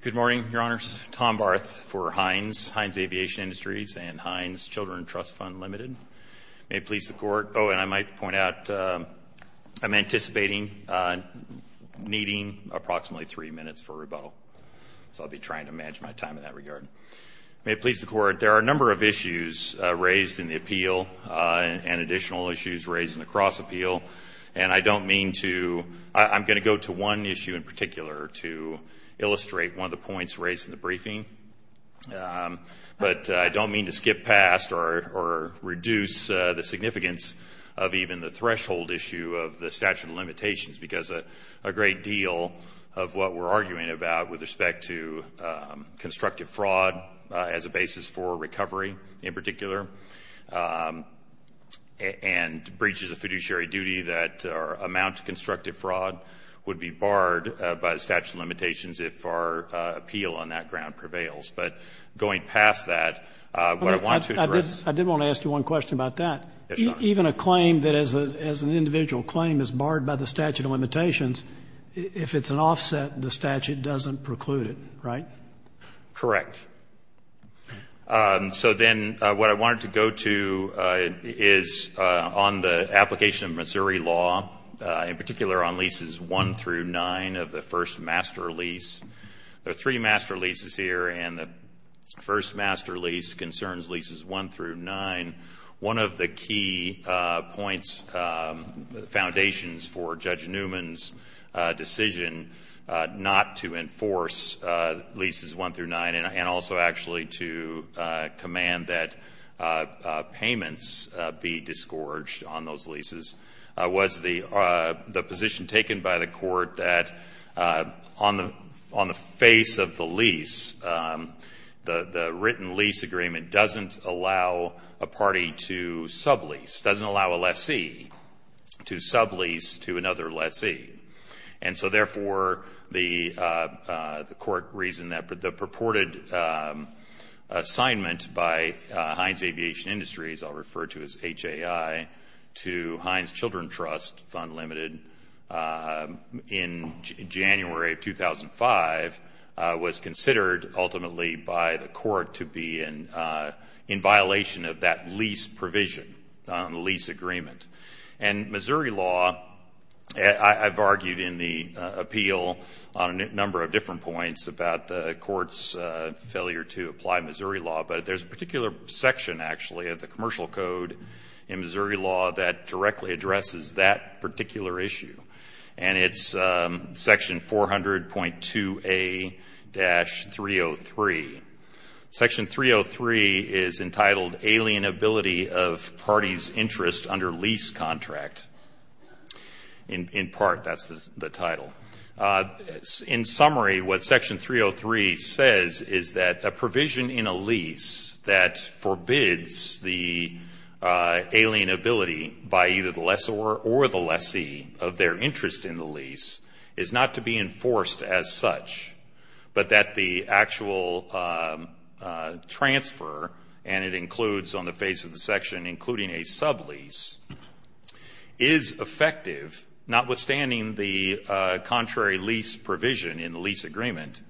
Good morning, Your Honors. Tom Barth for Hynes, Hynes Aviation Industries, and Hynes Children's Trust Fund Limited. May it please the Court. Oh, and I might point out, I'm anticipating needing approximately three minutes for rebuttal. So I'll be trying to manage my time in that regard. May it please the Court. There are a number of issues raised in the appeal, and additional issues raised in the cross-appeal. And I don't mean to, I'm going to go to one issue in particular to illustrate one of the points raised in the briefing. But I don't mean to skip past or reduce the significance of even the threshold issue of the statute of limitations, because a great deal of what we're arguing about with respect to constructive fraud as a basis for recovery in particular, and breaches of fiduciary duty that amount to constructive fraud, would be barred by the statute of limitations if our appeal on that ground prevails. But going past that, what I wanted to address I did want to ask you one question about that. Even a claim that is, as an individual claim, is barred by the statute of limitations, if it's an offset, the statute doesn't preclude it, right? Correct. So then, what I wanted to go to is on the application of Missouri law, in particular on leases one through nine of the first master lease. There are three master leases here, and the first master lease concerns leases one through nine. One of the key points, foundations for Judge Newman's decision not to enforce leases one through nine, and also actually to command that payments be disgorged on those leases, was the position taken by the court that on the face of the lease, the written lease agreement doesn't allow a party to sublease, doesn't allow a lessee to sublease to another lessee. And so, therefore, the court reasoned that the purported assignment by Heinz Aviation Industries, I'll refer to as HAI, to Heinz Children's Trust, fund limited, in January of 2005, was considered ultimately by the court to be in violation of that lease provision, the lease agreement. And Missouri law, I've argued in the appeal on a number of different points about the court's failure to apply Missouri law, but there's a particular section, actually, of the commercial code in Missouri law that directly addresses that particular issue. And it's section 400.2A-303. Section 303 is entitled Alienability of Party's Interest Under Lease Contract. In part, that's the title. In summary, what section 303 says is that a provision in a lease that forbids the alienability by either the lessor or the lessee of their interest in the lease is not to be enforced as such, but that the actual transfer, and it includes on the face of the section, including a sublease, is effective, notwithstanding the contrary lease provision in the lease agreement,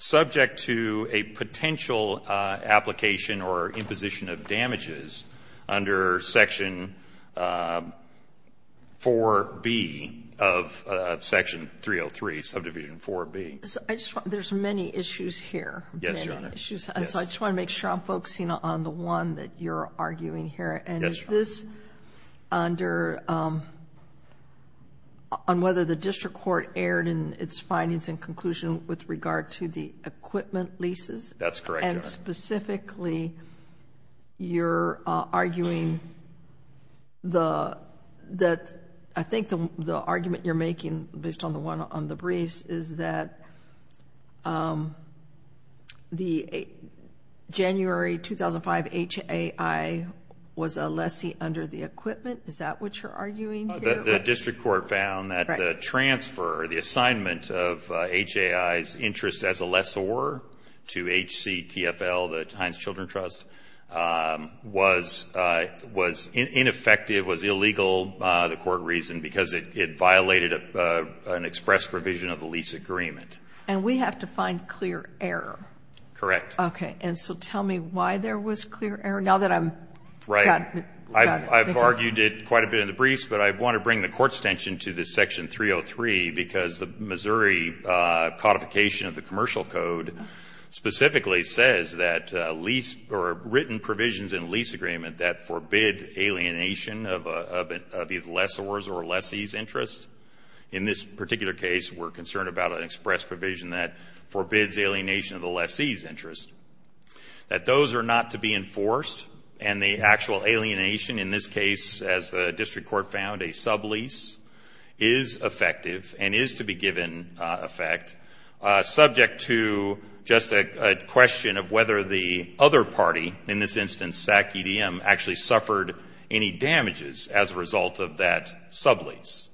subject to a potential application or imposition of damages under section 4B of section 303, subdivision 4B. There's many issues here. Yes, Your Honor. So I just want to make sure I'm focusing on the one that you're arguing here. And is this under, on whether the district court erred in its findings and conclusion with regard to the equipment leases? That's correct, Your Honor. So specifically, you're arguing that, I think the argument you're making based on the briefs is that the January 2005 HAI was a lessee under the equipment. Is that what you're arguing here? The district court found that the transfer, the assignment of HAI's interest as a lessor to HCTFL, the Heinz Children's Trust, was ineffective, was illegal, the court reasoned, because it violated an express provision of the lease agreement. And we have to find clear error. Correct. Okay. And so tell me why there was clear error, now that I've got it figured out. Right. I've argued it quite a bit in the briefs, but I want to bring the court's attention to specifically says that written provisions in lease agreement that forbid alienation of either lessor's or lessee's interest, in this particular case, we're concerned about an express provision that forbids alienation of the lessee's interest, that those are not to be enforced, and the actual alienation, in this case, as the district court found, a sublease, is effective and is to be given effect, subject to just a question of whether the other party, in this instance, SAC-EDM, actually suffered any damages as a result of that sublease.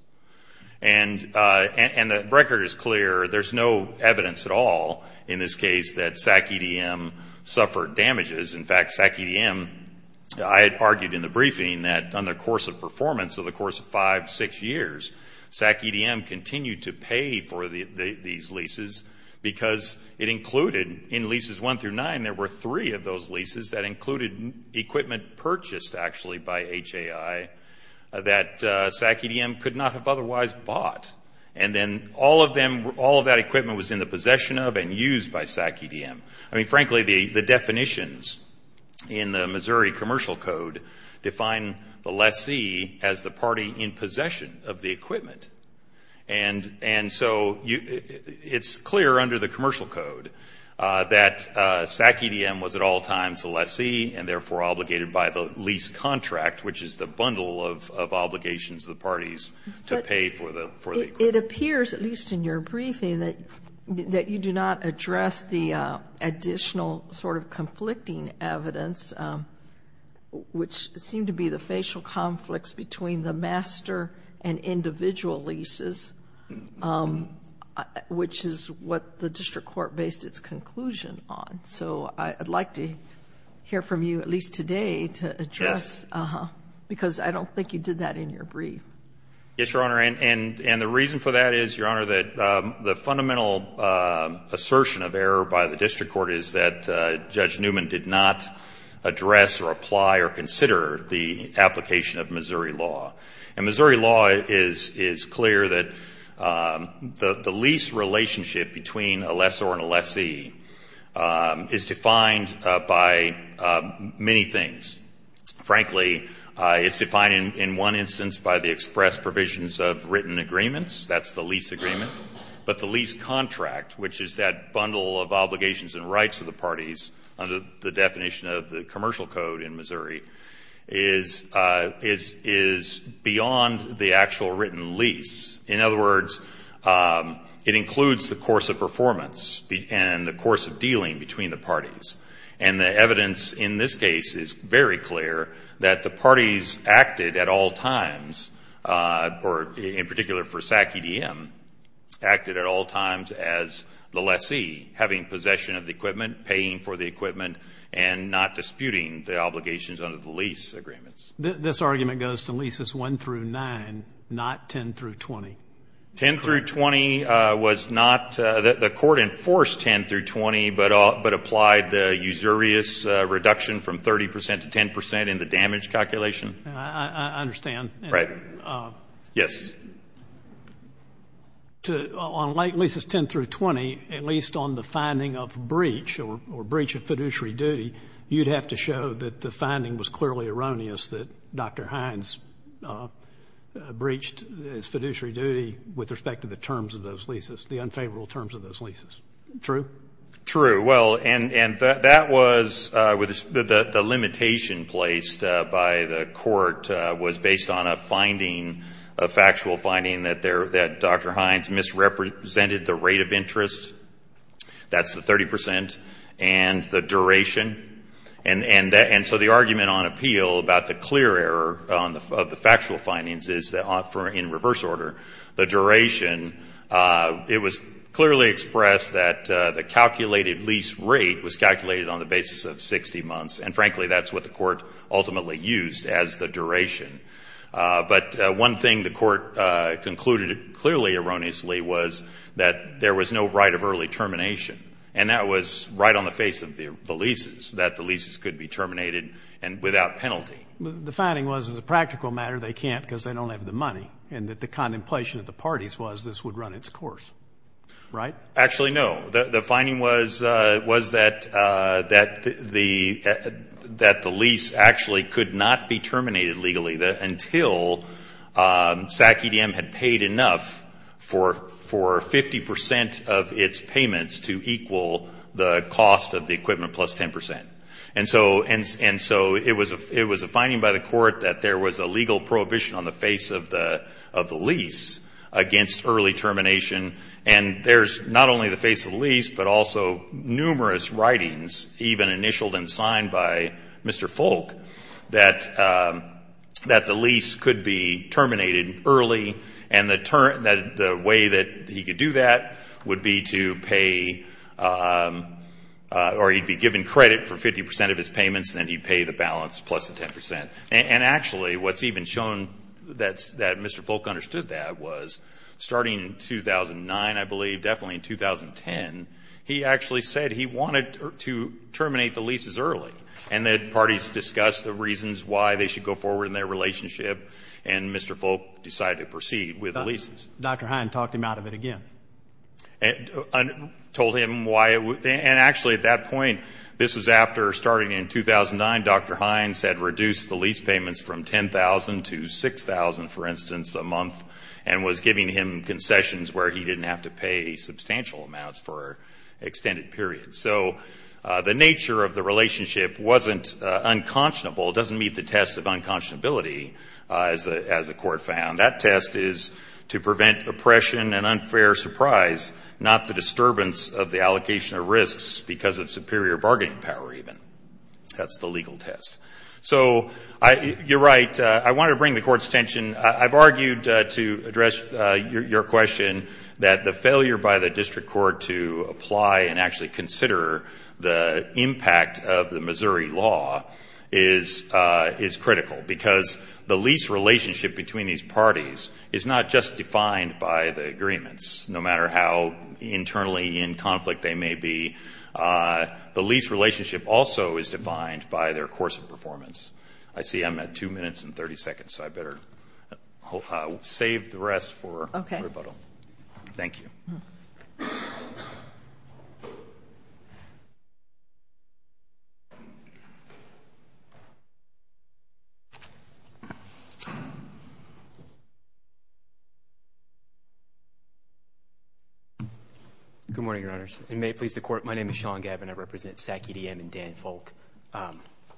And the record is clear, there's no evidence at all, in this case, that SAC-EDM suffered damages. In fact, SAC-EDM, I had argued in the briefing that on the course of performance, so the course of five, six years, SAC-EDM continued to pay for these leases because it included, in leases one through nine, there were three of those leases that included equipment purchased, actually, by HAI that SAC-EDM could not have otherwise bought. And then all of them, all of that equipment was in the possession of and used by SAC-EDM. I mean, frankly, the definitions in the Missouri Commercial Code define the lessee as the part in possession of the equipment. And so it's clear under the Commercial Code that SAC-EDM was at all times a lessee and therefore obligated by the lease contract, which is the bundle of obligations the parties to pay for the equipment. It appears, at least in your briefing, that you do not address the additional sort of master and individual leases, which is what the district court based its conclusion on. So I'd like to hear from you, at least today, to address, because I don't think you did that in your brief. Yes, Your Honor, and the reason for that is, Your Honor, that the fundamental assertion of error by the district court is that Judge Newman did not address or apply or consider the application of Missouri law. And Missouri law is clear that the lease relationship between a lessor and a lessee is defined by many things. Frankly, it's defined in one instance by the express provisions of written agreements. That's the lease agreement. But the lease contract, which is that bundle of obligations and rights of the parties under the definition of the commercial code in Missouri, is beyond the actual written lease. In other words, it includes the course of performance and the course of dealing between the parties. And the evidence in this case is very clear that the parties acted at all times, or in particular for Sac EDM, acted at all times as the lessee, having possession of the equipment, paying for the equipment, and not disputing the obligations under the lease agreements. This argument goes to leases 1 through 9, not 10 through 20. 10 through 20 was not, the court enforced 10 through 20, but applied the usurious reduction from 30% to 10% in the damage calculation. I understand. Right. Yes. On leases 10 through 20, at least on the finding of breach or breach of fiduciary duty, you'd have to show that the finding was clearly erroneous, that Dr. Hines breached his fiduciary duty with respect to the terms of those leases, the unfavorable terms of those leases. True? True. Well, and that was, the limitation placed by the court was based on a finding of factual finding that Dr. Hines misrepresented the rate of interest, that's the 30%, and the duration. And so the argument on appeal about the clear error of the factual findings is that, in reverse order, the duration, it was clearly expressed that the calculated lease rate was calculated on the basis of 60 months, and frankly that's what the court ultimately used as the duration. But one thing the court concluded clearly erroneously was that there was no right of early termination, and that was right on the face of the leases, that the leases could be terminated and without penalty. The finding was, as a practical matter, they can't because they don't have the money, and that the contemplation of the parties was this would run its course, right? Actually no. The finding was that the lease actually could not be terminated legally. Until SAC-EDM had paid enough for 50% of its payments to equal the cost of the equipment plus 10%. And so it was a finding by the court that there was a legal prohibition on the face of the lease against early termination, and there's not only the face of the lease, but also numerous writings, even initialed and signed by Mr. Folk, that the lease could be terminated early, and the way that he could do that would be to pay, or he'd be given credit for 50% of his payments, and then he'd pay the balance plus the 10%. And actually what's even shown that Mr. Folk understood that was starting in 2009, I believe, definitely in 2010, he actually said he wanted to terminate the leases early, and that parties discussed the reasons why they should go forward in their relationship, and Mr. Folk decided to proceed with the leases. Dr. Hines talked him out of it again. Told him why it would, and actually at that point, this was after starting in 2009, Dr. Hines had reduced the lease payments from $10,000 to $6,000, for instance, a month, and was giving him concessions where he didn't have to pay substantial amounts for extended periods. So the nature of the relationship wasn't unconscionable. It doesn't meet the test of unconscionability as the court found. That test is to prevent oppression and unfair surprise, not the disturbance of the allocation of risks because of superior bargaining power, even. That's the legal test. So you're right. I wanted to bring the court's attention. I've argued to address your question that the failure by the district court to apply and actually consider the impact of the Missouri law is critical because the lease relationship between these parties is not just defined by the agreements, no matter how internally in conflict they may be. The lease relationship also is defined by their course of performance. I see I'm at 2 minutes and 30 seconds, so I better save the rest for rebuttal. Thank you. Good morning, Your Honors. May it please the Court, my name is Sean Gavin. I represent MAC EDM and Dan Folk. A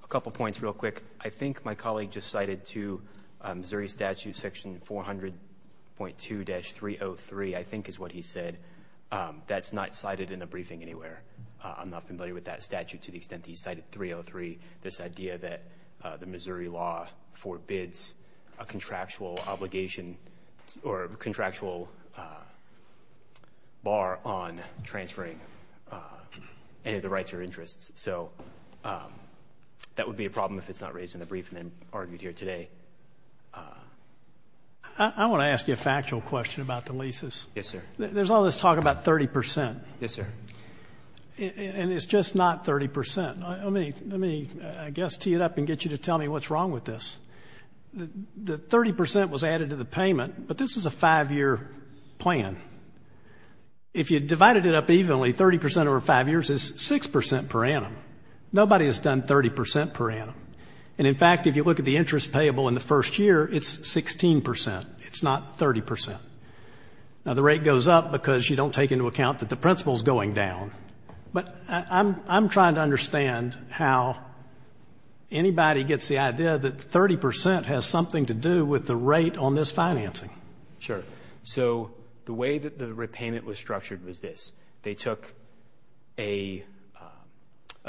couple points real quick. I think my colleague just cited to Missouri statute section 400.2-303, I think is what he said. That's not cited in the briefing anywhere. I'm not familiar with that statute to the extent that he cited 303, this idea that the Missouri law forbids a contractual obligation or contractual bar on transferring any of the rights or interests. So that would be a problem if it's not raised in the briefing and argued here today. I want to ask you a factual question about the leases. Yes, sir. There's all this talk about 30%. Yes, sir. And it's just not 30%. Let me, I guess, tee it up and get you to tell me what's wrong with this. The 30% was added to the payment, but this is a five-year plan. If you divided it up evenly, 30% over five years is 6% per annum. Nobody has done 30% per annum. And in fact, if you look at the interest payable in the first year, it's 16%. It's not 30%. Now, the rate goes up because you don't take into account that the principal is going down. But I'm trying to understand how anybody gets the idea that 30% has something to do with the rate on this financing. Sure. So the way that the repayment was structured was this. They took a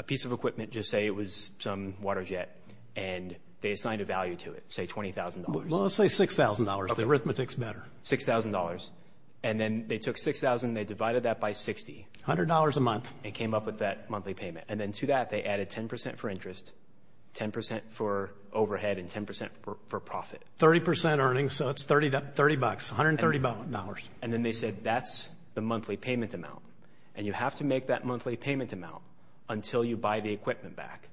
piece of equipment, just say it was some water jet, and they assigned a value to it, say $20,000. Well, let's say $6,000. The arithmetic's better. $6,000. And then they took $6,000 and they divided that by 60. $100 a month. And came up with that monthly payment. And then to that, they added 10% for interest, 10% for overhead, and 10% for profit. 30% earnings, so that's $30. $130. And then they said, that's the monthly payment amount. And you have to make that monthly payment amount until you buy the equipment back.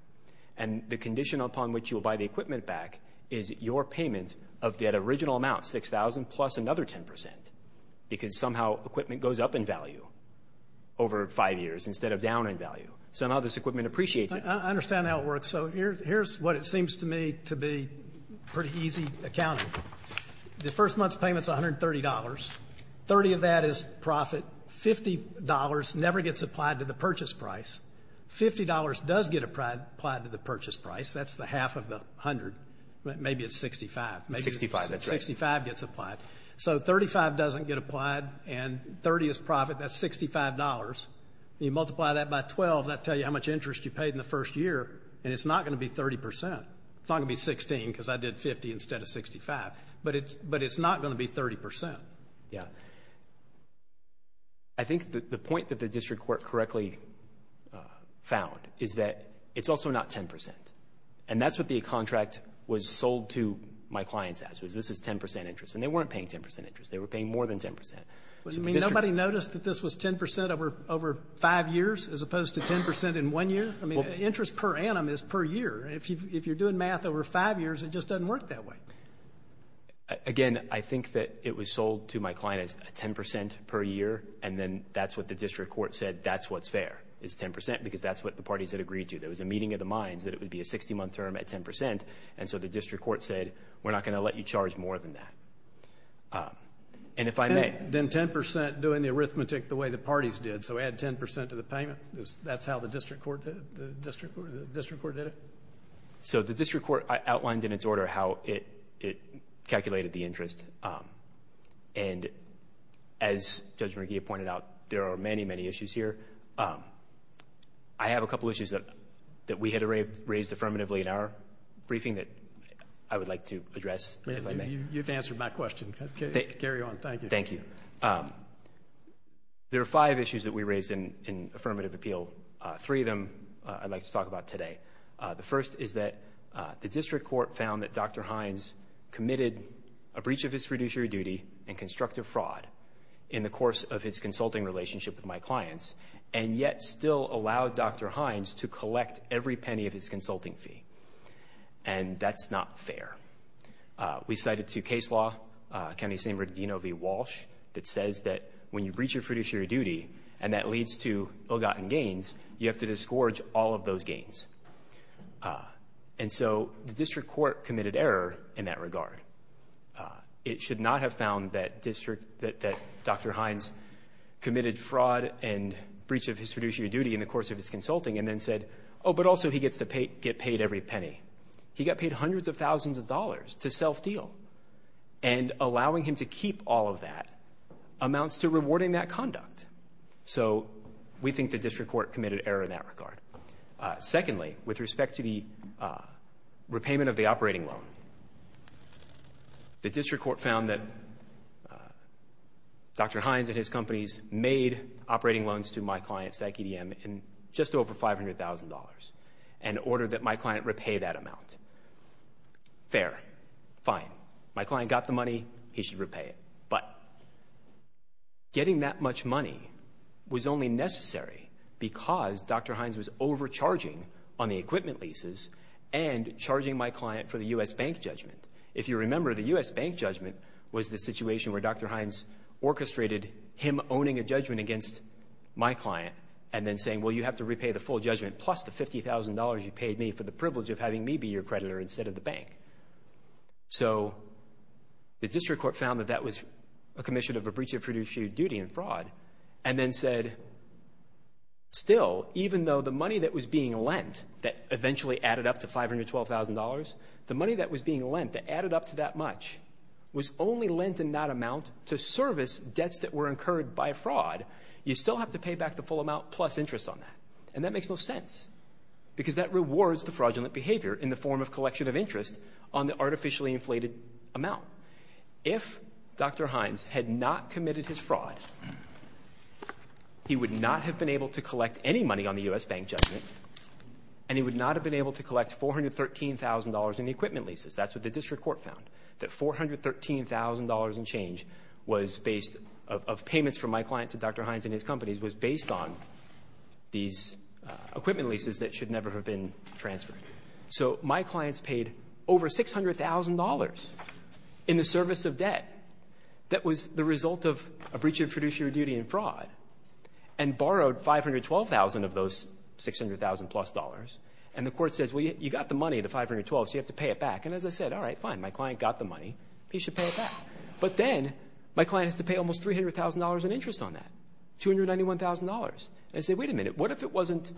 And the condition upon which you will buy the equipment back is your payment of that original amount, $6,000, plus another 10%. Because somehow equipment goes up in value over five years instead of down in value. So now this equipment appreciates it. I understand how it works. So here's what it seems to me to be pretty easy accounting. The first month's payment's $130. 30 of that is profit. $50 never gets applied to the purchase price. $50 does get applied to the purchase price. That's the half of the 100. Maybe it's 65. 65, that's right. 65 gets applied. So 35 doesn't get applied. And 30 is profit. That's $65. You multiply that by 12, that'll tell you how much interest you paid in the first year. And it's not going to be 30%. It's not going to be 16, because I did 50 instead of 65. But it's not going to be 30%. Yeah. I think the point that the district court correctly found is that it's also not 10%. And that's what the contract was sold to my clients as, was this is 10% interest. And they weren't paying 10% interest. They were paying more than 10%. I mean, nobody noticed that this was 10% over five years as opposed to 10% in one year? I mean, interest per annum is per year. If you're doing math over five years, it just doesn't work that way. Again, I think that it was sold to my client as 10% per year. And then that's what the district court said, that's what's fair, is 10%, because that's what the parties had agreed to. There was a meeting of the minds that it would be a 60-month term at 10%. And so the district court said, we're not going to let you charge more than that. And if I get 10% doing the arithmetic the way the parties did, so add 10% to the payment, that's how the district court did it? So the district court outlined in its order how it calculated the interest. And as Judge McGee pointed out, there are many, many issues here. I have a couple issues that we had raised affirmatively in our briefing that I would like to address, if I may. And thank you. There are five issues that we raised in affirmative appeal. Three of them I'd like to talk about today. The first is that the district court found that Dr. Hines committed a breach of his fiduciary duty and constructive fraud in the course of his consulting relationship with my clients, and yet still allowed Dr. Hines to collect every penny of his consulting fee. And that's not fair. We cited two case law, County of San Bernardino v. Walsh, that says that when you breach your fiduciary duty, and that leads to ill-gotten gains, you have to discourage all of those gains. And so the district court committed error in that regard. It should not have found that Dr. Hines committed fraud and breach of his fiduciary duty in the course of his consulting, and then said, oh, but also he gets to get paid every penny. He got paid hundreds of thousands of dollars to self-deal. And allowing him to keep all of that amounts to rewarding that conduct. So we think the district court committed error in that regard. Secondly, with respect to the repayment of the operating loan, the district court found that Dr. Hines and his companies made operating loans to my clients at GDM in just over $500,000 in order that my client repay that amount. Fair. Fine. My client got the money. He should repay it. But getting that much money was only necessary because Dr. Hines was overcharging on the equipment leases and charging my client for the U.S. Bank judgment. If you remember, the U.S. Bank judgment was the situation where Dr. Hines orchestrated him owning a judgment against my client and then saying, well, you have to repay the full judgment plus the $50,000 you paid me for the privilege of having me be your creditor instead of the bank. So the district court found that that was a commission of a breach of fiduciary duty and fraud, and then said, still, even though the money that was being lent that eventually added up to $512,000, the money that was being lent that added up to that much was only lent in that amount to service debts that were incurred by fraud, you still have to pay back the full amount plus interest on that. And that makes no sense because that rewards the fraudulent behavior in the form of collection of interest on the artificially inflated amount. If Dr. Hines had not committed his fraud, he would not have been able to collect any money on the U.S. Bank judgment, and he would not have been able to collect $413,000 in the equipment leases. That's what the district court found, that $413,000 in change of payments from my client to Dr. Hines and his companies was based on these equipment leases that should never have been transferred. So my clients paid over $600,000 in the service of debt that was the result of a breach of fiduciary duty and fraud, and you've got the money, the $512,000, so you have to pay it back. And as I said, all right, fine, my client got the money, he should pay it back. But then my client has to pay almost $300,000 in interest on that, $291,000. I said, wait a minute, what if it wasn't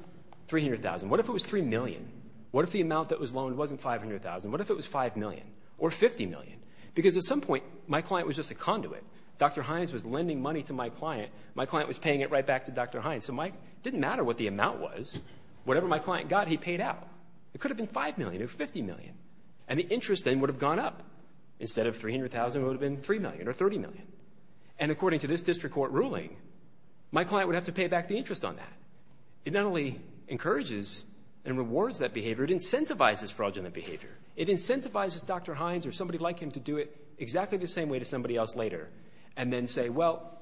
$300,000? What if it was $3 million? What if the amount that was loaned wasn't $500,000? What if it was $5 million or $50 million? Because at some point my client was just a conduit. Dr. Hines was lending money to my client, my client was paying it right back to Dr. Hines. So it didn't matter what the amount was, whatever my client got, he paid out. It could have been $5 million or $50 million, and the interest then would have gone up. Instead of $300,000, it would have been $3 million or $30 million. And according to this district court ruling, my client would have to pay back the interest on that. It not only encourages and rewards that behavior, it incentivizes fraudulent behavior. It incentivizes Dr. Hines or somebody like him to do it exactly the same way to somebody else later and then say, well,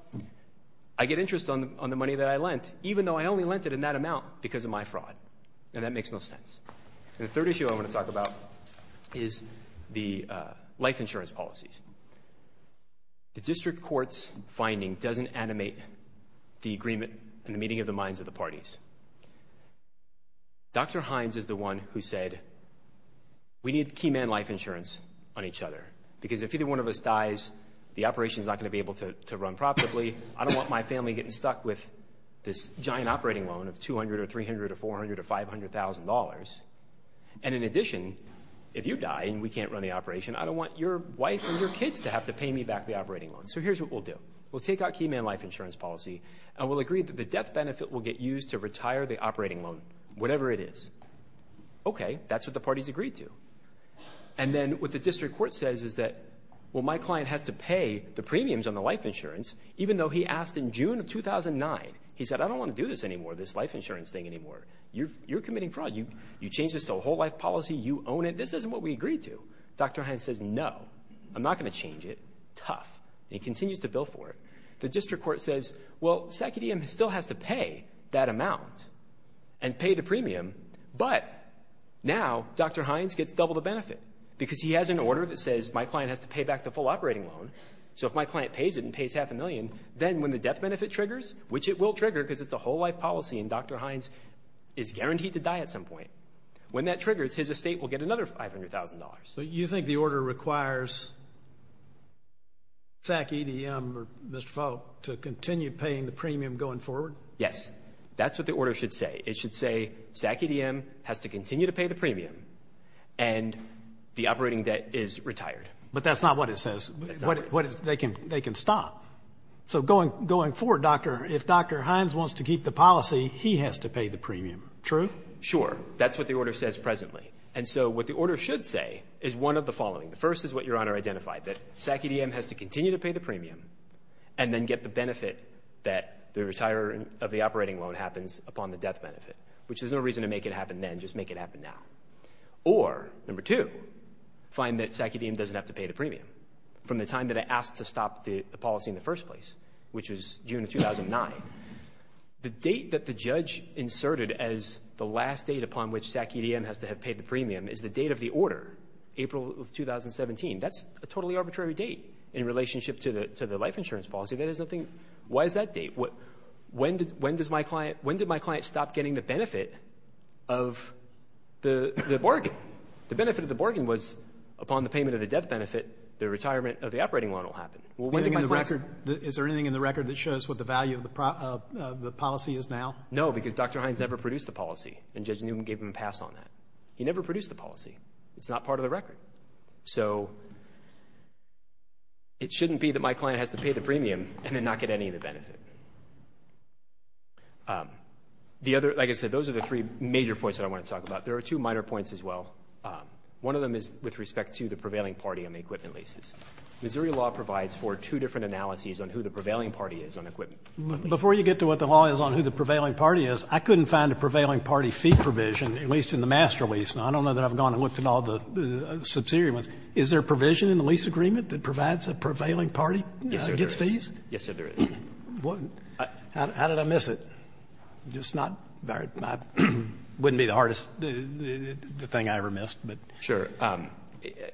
I get interest on the money that I lent even though I only lent it in that amount because of my fraud. And that makes no sense. And the third issue I want to talk about is the life insurance policies. The district court's finding doesn't animate the agreement and the meeting of the minds of the parties. Dr. Hines is the one who said, we need key man life insurance on each other because if either one of us dies, the operation's not going to be able to run properly. I don't want my family getting stuck with this giant operating loan of $200,000 or $300,000 or $400,000 or $500,000. And in addition, if you die and we can't run the operation, I don't want your wife and your kids to have to pay me back the operating loan. So here's what we'll do. We'll take out key man life insurance policy and we'll agree that the death benefit will get used to retire the operating loan, whatever it is. Okay, that's what the parties agreed to. And then what the district court says is that, well, my client has to pay the premiums on the life insurance even though he asked in June of 2009. He said, I don't want to do this anymore, this life insurance thing anymore. You're committing fraud. You changed this to a whole life policy. You own it. This isn't what we agreed to. Dr. Hines says, no, I'm not going to change it. Tough. And he continues to bill for it. The district court says, well, SecuDM still has to pay that amount and pay the premium, but now Dr. Hines gets double the benefit because he has an order that says my client has to pay back the full operating loan. So if my client pays it and pays half a million, then when the death benefit triggers, which it will trigger because it's a whole life policy, and Dr. Hines is guaranteed to die at some point, when that triggers, his estate will get another $500,000. But you think the order requires SecuDM or Mr. Faulk to continue paying the premium going forward? Yes, that's what the order should say. It should say SecuDM has to continue to pay the That's not what it says. They can stop. So going forward, if Dr. Hines wants to keep the policy, he has to pay the premium. True? Sure. That's what the order says presently. And so what the order should say is one of the following. The first is what Your Honor identified, that SecuDM has to continue to pay the premium and then get the benefit that the retirement of the operating loan happens upon the death benefit, which there's no reason to make it happen then. Just make it happen now. Or, number two, find that SecuDM doesn't have to pay the premium from the time that it asked to stop the policy in the first place, which was June of 2009. The date that the judge inserted as the last date upon which SecuDM has to have paid the premium is the date of the order, April of 2017. That's a totally arbitrary date in relationship to the life insurance policy. Why is that date? When did my client stop getting the benefit of the bargain? The benefit of the bargain was upon the payment of the death benefit, the retirement of the operating loan will happen. Is there anything in the record that shows what the value of the policy is now? No, because Dr. Hines never produced the policy and Judge Newman gave him a pass on that. He never produced the policy. It's not part of the record. So it shouldn't be that my client has to pay the premium and then not get any of the benefit. The other, like I said, those are the three major points that I want to talk about. There are two minor points as well. One of them is with respect to the prevailing party on the equipment leases. Missouri law provides for two different analyses on who the prevailing party is on equipment. Before you get to what the law is on who the prevailing party is, I couldn't find a prevailing party fee provision, at least in the master lease. Now, I don't know that I've gone and looked at all the subsidiary ones. Is there a provision in the lease agreement that provides a prevailing party gets fees? Yes, sir, there is. How did I miss it? Just not, wouldn't be the hardest thing I ever missed. Sure.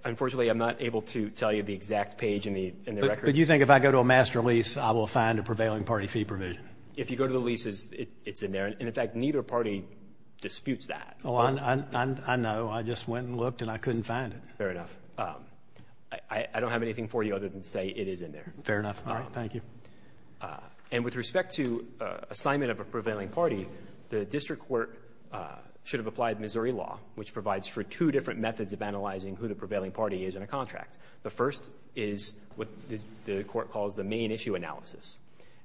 Unfortunately, I'm not able to tell you the exact page in the record. But you think if I go to a master lease, I will find a prevailing party fee provision? If you go to the leases, it's in there. And in fact, neither party disputes that. I know. I just went and looked and I couldn't find it. Fair enough. I don't have anything for you other than to say it is in there. Fair enough. Thank you. And with respect to assignment of a prevailing party, the district court should have applied Missouri law, which provides for two different methods of analyzing who the prevailing party is in a contract. The first is what the court calls the main issue analysis.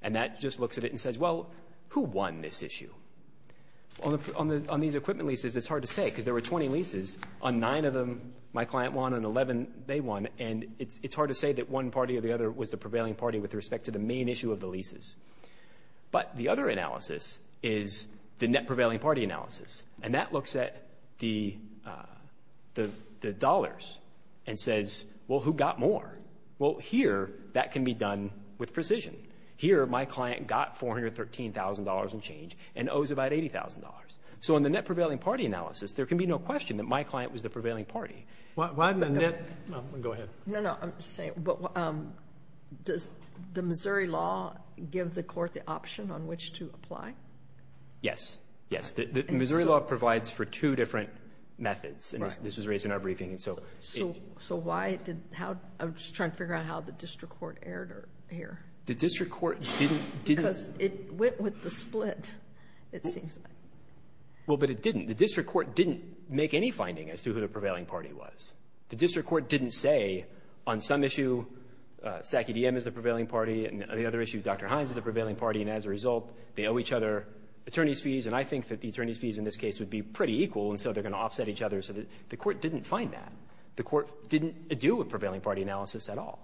And that just looks at it and says, well, who won this issue? On these equipment leases, it's hard to say because there were 20 leases. On nine of them, my client won. On 11, they won. And it's the prevailing party with respect to the main issue of the leases. But the other analysis is the net prevailing party analysis. And that looks at the dollars and says, well, who got more? Well, here, that can be done with precision. Here, my client got $413,000 in change and owes about $80,000. So in the net prevailing party analysis, there can be no question that my client was the prevailing party. Go ahead. No, no. I'm just saying, does the Missouri law give the court the option on which to apply? Yes. Yes. The Missouri law provides for two different methods. And this was raised in our briefing. So why did... I'm just trying to figure out how the district court erred here. The district court didn't... Because it went with the split, it seems like. Well, but it didn't. The district court didn't make any finding as to who the prevailing party was. The district court didn't say, on some issue, SAC-EDM is the prevailing party, and on the other issue, Dr. Hines is the prevailing party. And as a result, they owe each other attorney's fees. And I think that the attorney's fees in this case would be pretty equal, and so they're going to offset each other. So the court didn't find that. The court didn't do a prevailing party analysis at all.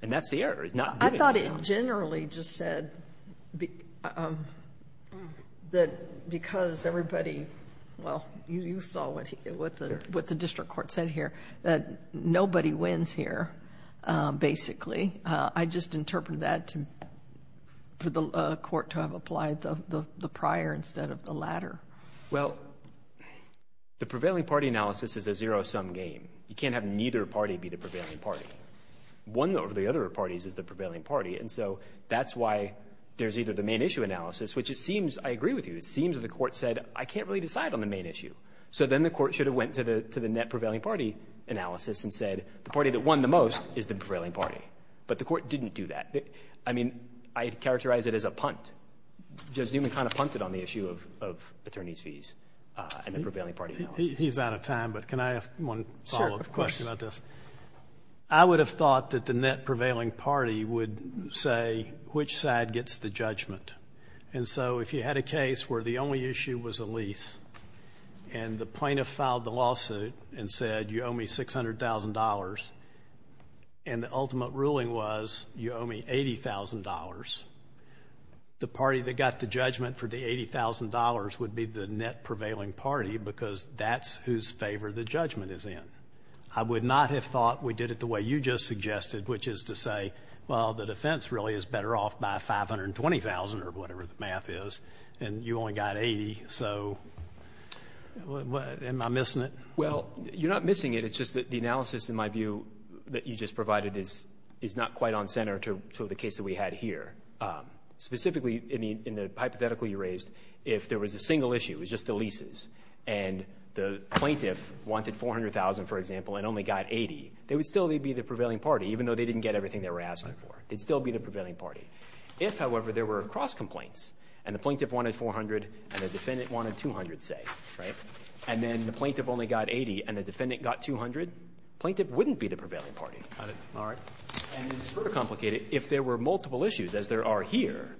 And that's the error, is not doing it. I thought it generally just said that because everybody... Well, you saw what the district court said here, that nobody wins here, basically. I just interpreted that for the court to have applied the prior instead of the latter. Well, the prevailing party analysis is a zero-sum game. You can't have neither party be the prevailing party. And so that's why there's either the main issue analysis, which it seems, I agree with you, it seems that the court said, I can't really decide on the main issue. So then the court should have went to the net prevailing party analysis and said, the party that won the most is the prevailing party. But the court didn't do that. I mean, I characterize it as a punt. Judge Newman kind of punted on the issue of attorney's fees and the prevailing party analysis. He's out of time, but can I ask one follow-up question about this? Sure, of course. I would have thought that the net prevailing party would say which side gets the judgment. And so if you had a case where the only issue was a lease and the plaintiff filed the lawsuit and said you owe me $600,000 and the ultimate ruling was you owe me $80,000, the party that got the judgment for the $80,000 would be the net prevailing party because that's whose favor the judgment is in. I would not have thought we did it the way you just suggested, which is to say, well, the defense really is better off by $520,000 or whatever the math is, and you only got $80,000. So am I missing it? Well, you're not missing it. It's just that the analysis, in my view, that you just provided is not quite on center to the case that we had here. Specifically, in the hypothetical you raised, if there was a single issue, it was just the plaintiff wanted $400,000, for example, and only got $80,000, they would still be the prevailing party, even though they didn't get everything they were asking for. They'd still be the prevailing party. If, however, there were cross-complaints and the plaintiff wanted $400,000 and the defendant wanted $200,000, say, and then the plaintiff only got $80,000 and the defendant got $200,000, the plaintiff wouldn't be the prevailing party. Got it. All right. And it's sort of complicated. If there were multiple issues, as there are here,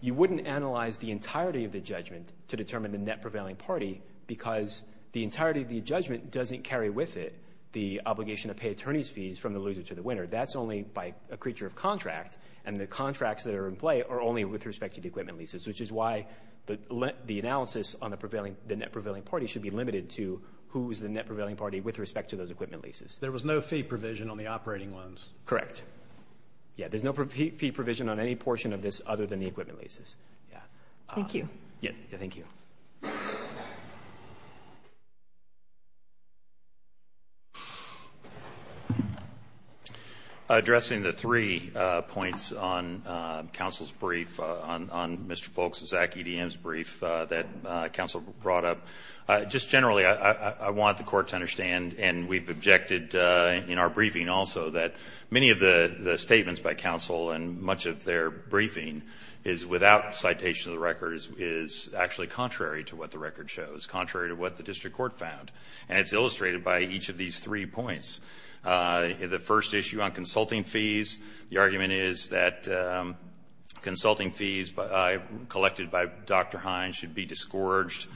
you wouldn't analyze the entirety of the judgment to determine the net prevailing party because the entirety of the judgment doesn't carry with it the obligation to pay attorney's fees from the loser to the winner. That's only by a creature of contract, and the contracts that are in play are only with respect to the equipment leases, which is why the analysis on the net prevailing party should be limited to who's the net prevailing party with respect to those equipment leases. There was no fee provision on the operating loans. Correct. Yeah. There's no fee provision on any portion of this other than the equipment leases. Thank you. Thank you. Addressing the three points on counsel's brief, on Mr. Folk's, Zach EDM's brief that counsel brought up, just generally I want the court to understand, and we've objected in our briefing also, that many of the statements by counsel and much of their briefing is, without citation of the records, is actually contrary to what the record shows, contrary to what the district court found. And it's illustrated by each of these three points. The first issue on consulting fees, the argument is that consulting fees collected by Dr. Hines should be discouraged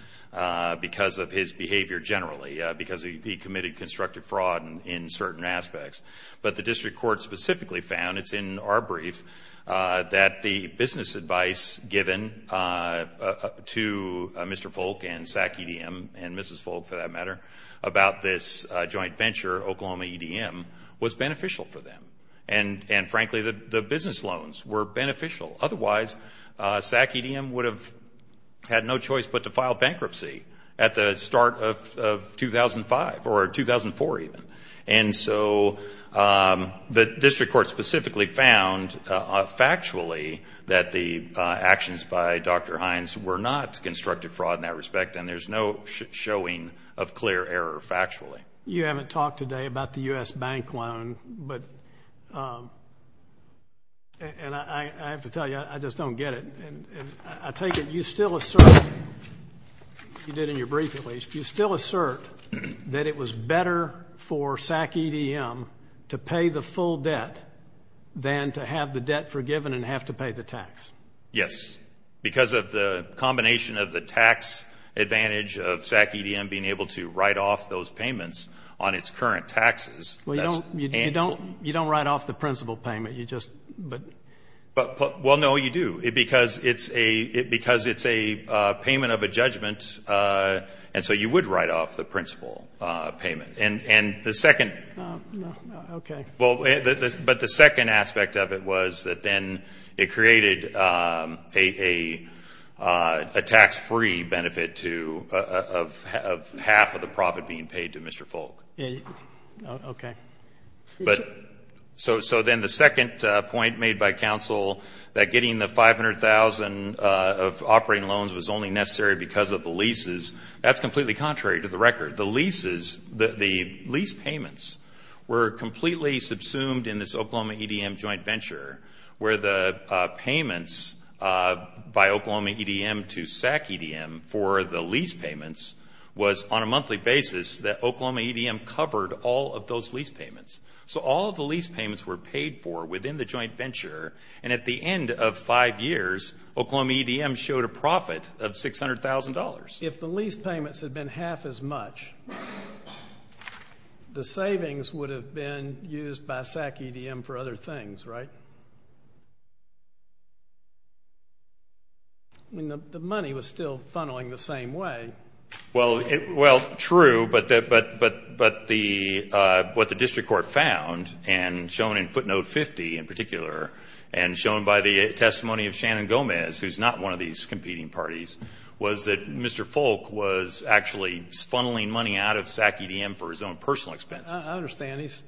because of his behavior generally, because he committed constructive fraud in certain aspects. But the district court specifically found, it's in our brief, that the business advice given to Mr. Folk and Zach EDM, and Mrs. Folk for that matter, about this joint venture, Oklahoma EDM, was beneficial for them. And frankly, the business loans were beneficial. Otherwise, Zach EDM would have had no choice but to file bankruptcy at the start of 2005, or 2004 even. And so the district court specifically found factually that the actions by Dr. Hines were not constructive fraud in that respect, and there's no showing of clear error factually. You haven't talked today about the U.S. bank loan, but, and I have to tell you, I just don't get it. I take it you still assert, you did in your brief at least, you still assert that it was better for Zach EDM to pay the full debt than to have the debt forgiven and have to pay the tax. Yes. Because of the combination of the tax advantage of Zach EDM being able to write off those payments on its current taxes. Well, you don't write off the principal payment, you just, but. Well, no, you do. Because it's a payment of a judgment, and so you would write off the principal payment. And the second. Okay. Well, but the second aspect of it was that then it created a tax-free benefit to, of half of the profit being paid to Mr. Folk. Okay. So then the second point made by counsel, that getting the 500,000 operating loans was only necessary because of the leases, that's completely contrary to the record. The leases, the lease payments were completely subsumed in this Oklahoma EDM joint venture where the payments by Oklahoma EDM to Zach EDM for the lease payments was on a monthly basis that Oklahoma EDM covered all of those lease payments. So all of the lease payments were paid for within the joint venture, and at the end of five years, Oklahoma EDM showed a profit of $600,000. If the lease payments had been half as much, the savings would have been used by Zach EDM for other things, right? I mean, the money was still funneling the same way. Well, true, but what the district court found and shown in footnote 50 in particular and shown by the testimony of Shannon Gomez, who's not one of these competing parties, was that Mr. Folk was actually funneling money out of Zach EDM for his own personal expenses. I understand. He's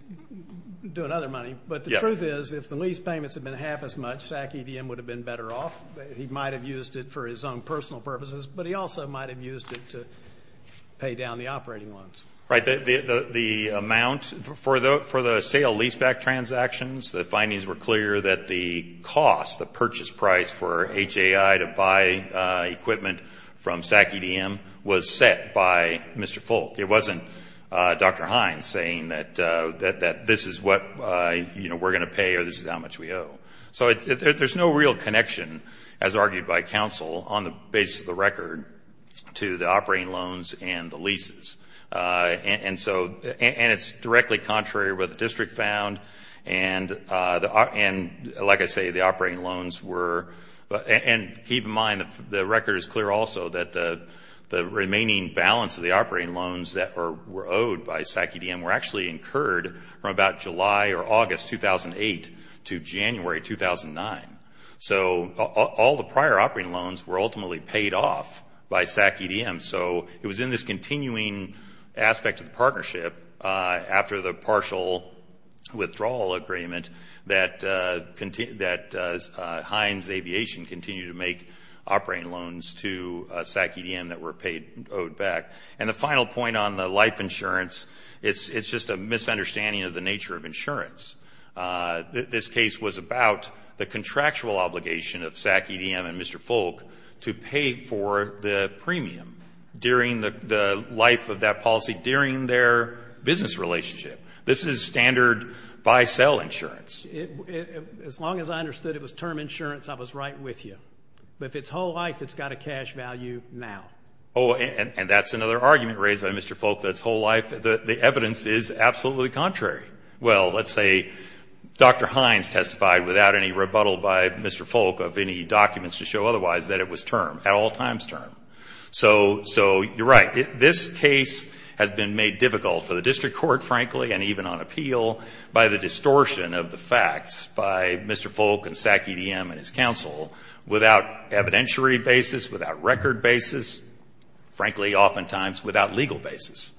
doing other money. But the truth is, if the lease payments had been half as much, Zach EDM would have been better off. He might have used it for his own personal purposes, but he also might have used it to pay down the operating loans. Right. The amount for the sale leaseback transactions, the findings were clear that the cost, the purchase price for HAI to buy equipment from Zach EDM was set by Mr. Folk. It wasn't Dr. Hines saying that this is what we're going to pay or this is how much we owe. So there's no real connection, as argued by counsel on the basis of the record, to the operating loans and the leases. And it's directly contrary to what the district found, and like I say, the operating loans were – and keep in mind, the record is clear also that the remaining balance of the operating loans that were owed by Zach EDM were actually incurred from about July or August 2008 to January 2009. So all the prior operating loans were ultimately paid off by Zach EDM. So it was in this continuing aspect of the partnership, after the partial withdrawal agreement, that Hines Aviation continued to make operating loans to Zach EDM that were paid – owed back. And the final point on the life insurance, it's just a misunderstanding of the nature of insurance. This case was about the contractual obligation of Zach EDM and Mr. Folk to pay for the premium during the life of that policy during their business relationship. This is standard buy-sell insurance. As long as I understood it was term insurance, I was right with you. But if it's whole life, it's got a cash value now. Oh, and that's another argument raised by Mr. Folk that it's whole life. The evidence is absolutely contrary. Well, let's say Dr. Hines testified without any rebuttal by Mr. Folk of any documents to show otherwise that it was term, at all times term. So you're right. This case has been made difficult for the district court, frankly, and even on appeal, by the distortion of the facts by Mr. Folk and Zach EDM and his counsel without evidentiary basis, without record basis, frankly, oftentimes without legal basis.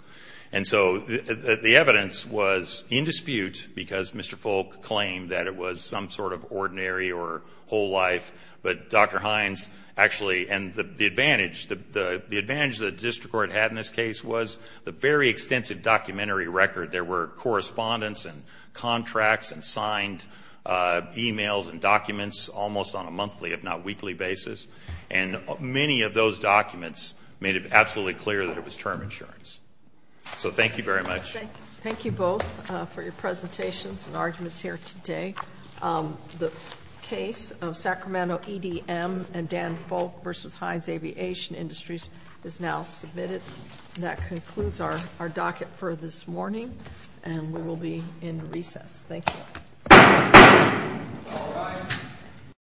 And so the evidence was in dispute because Mr. Folk claimed that it was some sort of ordinary or whole life. But Dr. Hines actually, and the advantage the district court had in this case was the very extensive documentary record. There were correspondence and contracts and signed e-mails and documents almost on a monthly, if not weekly, basis. And many of those documents made it absolutely clear that it was term insurance. So thank you very much. Thank you both for your presentations and arguments here today. The case of Sacramento EDM and Dan Folk versus Hines Aviation Industries is now submitted. That concludes our docket for this morning, and we will be in recess. Thank you.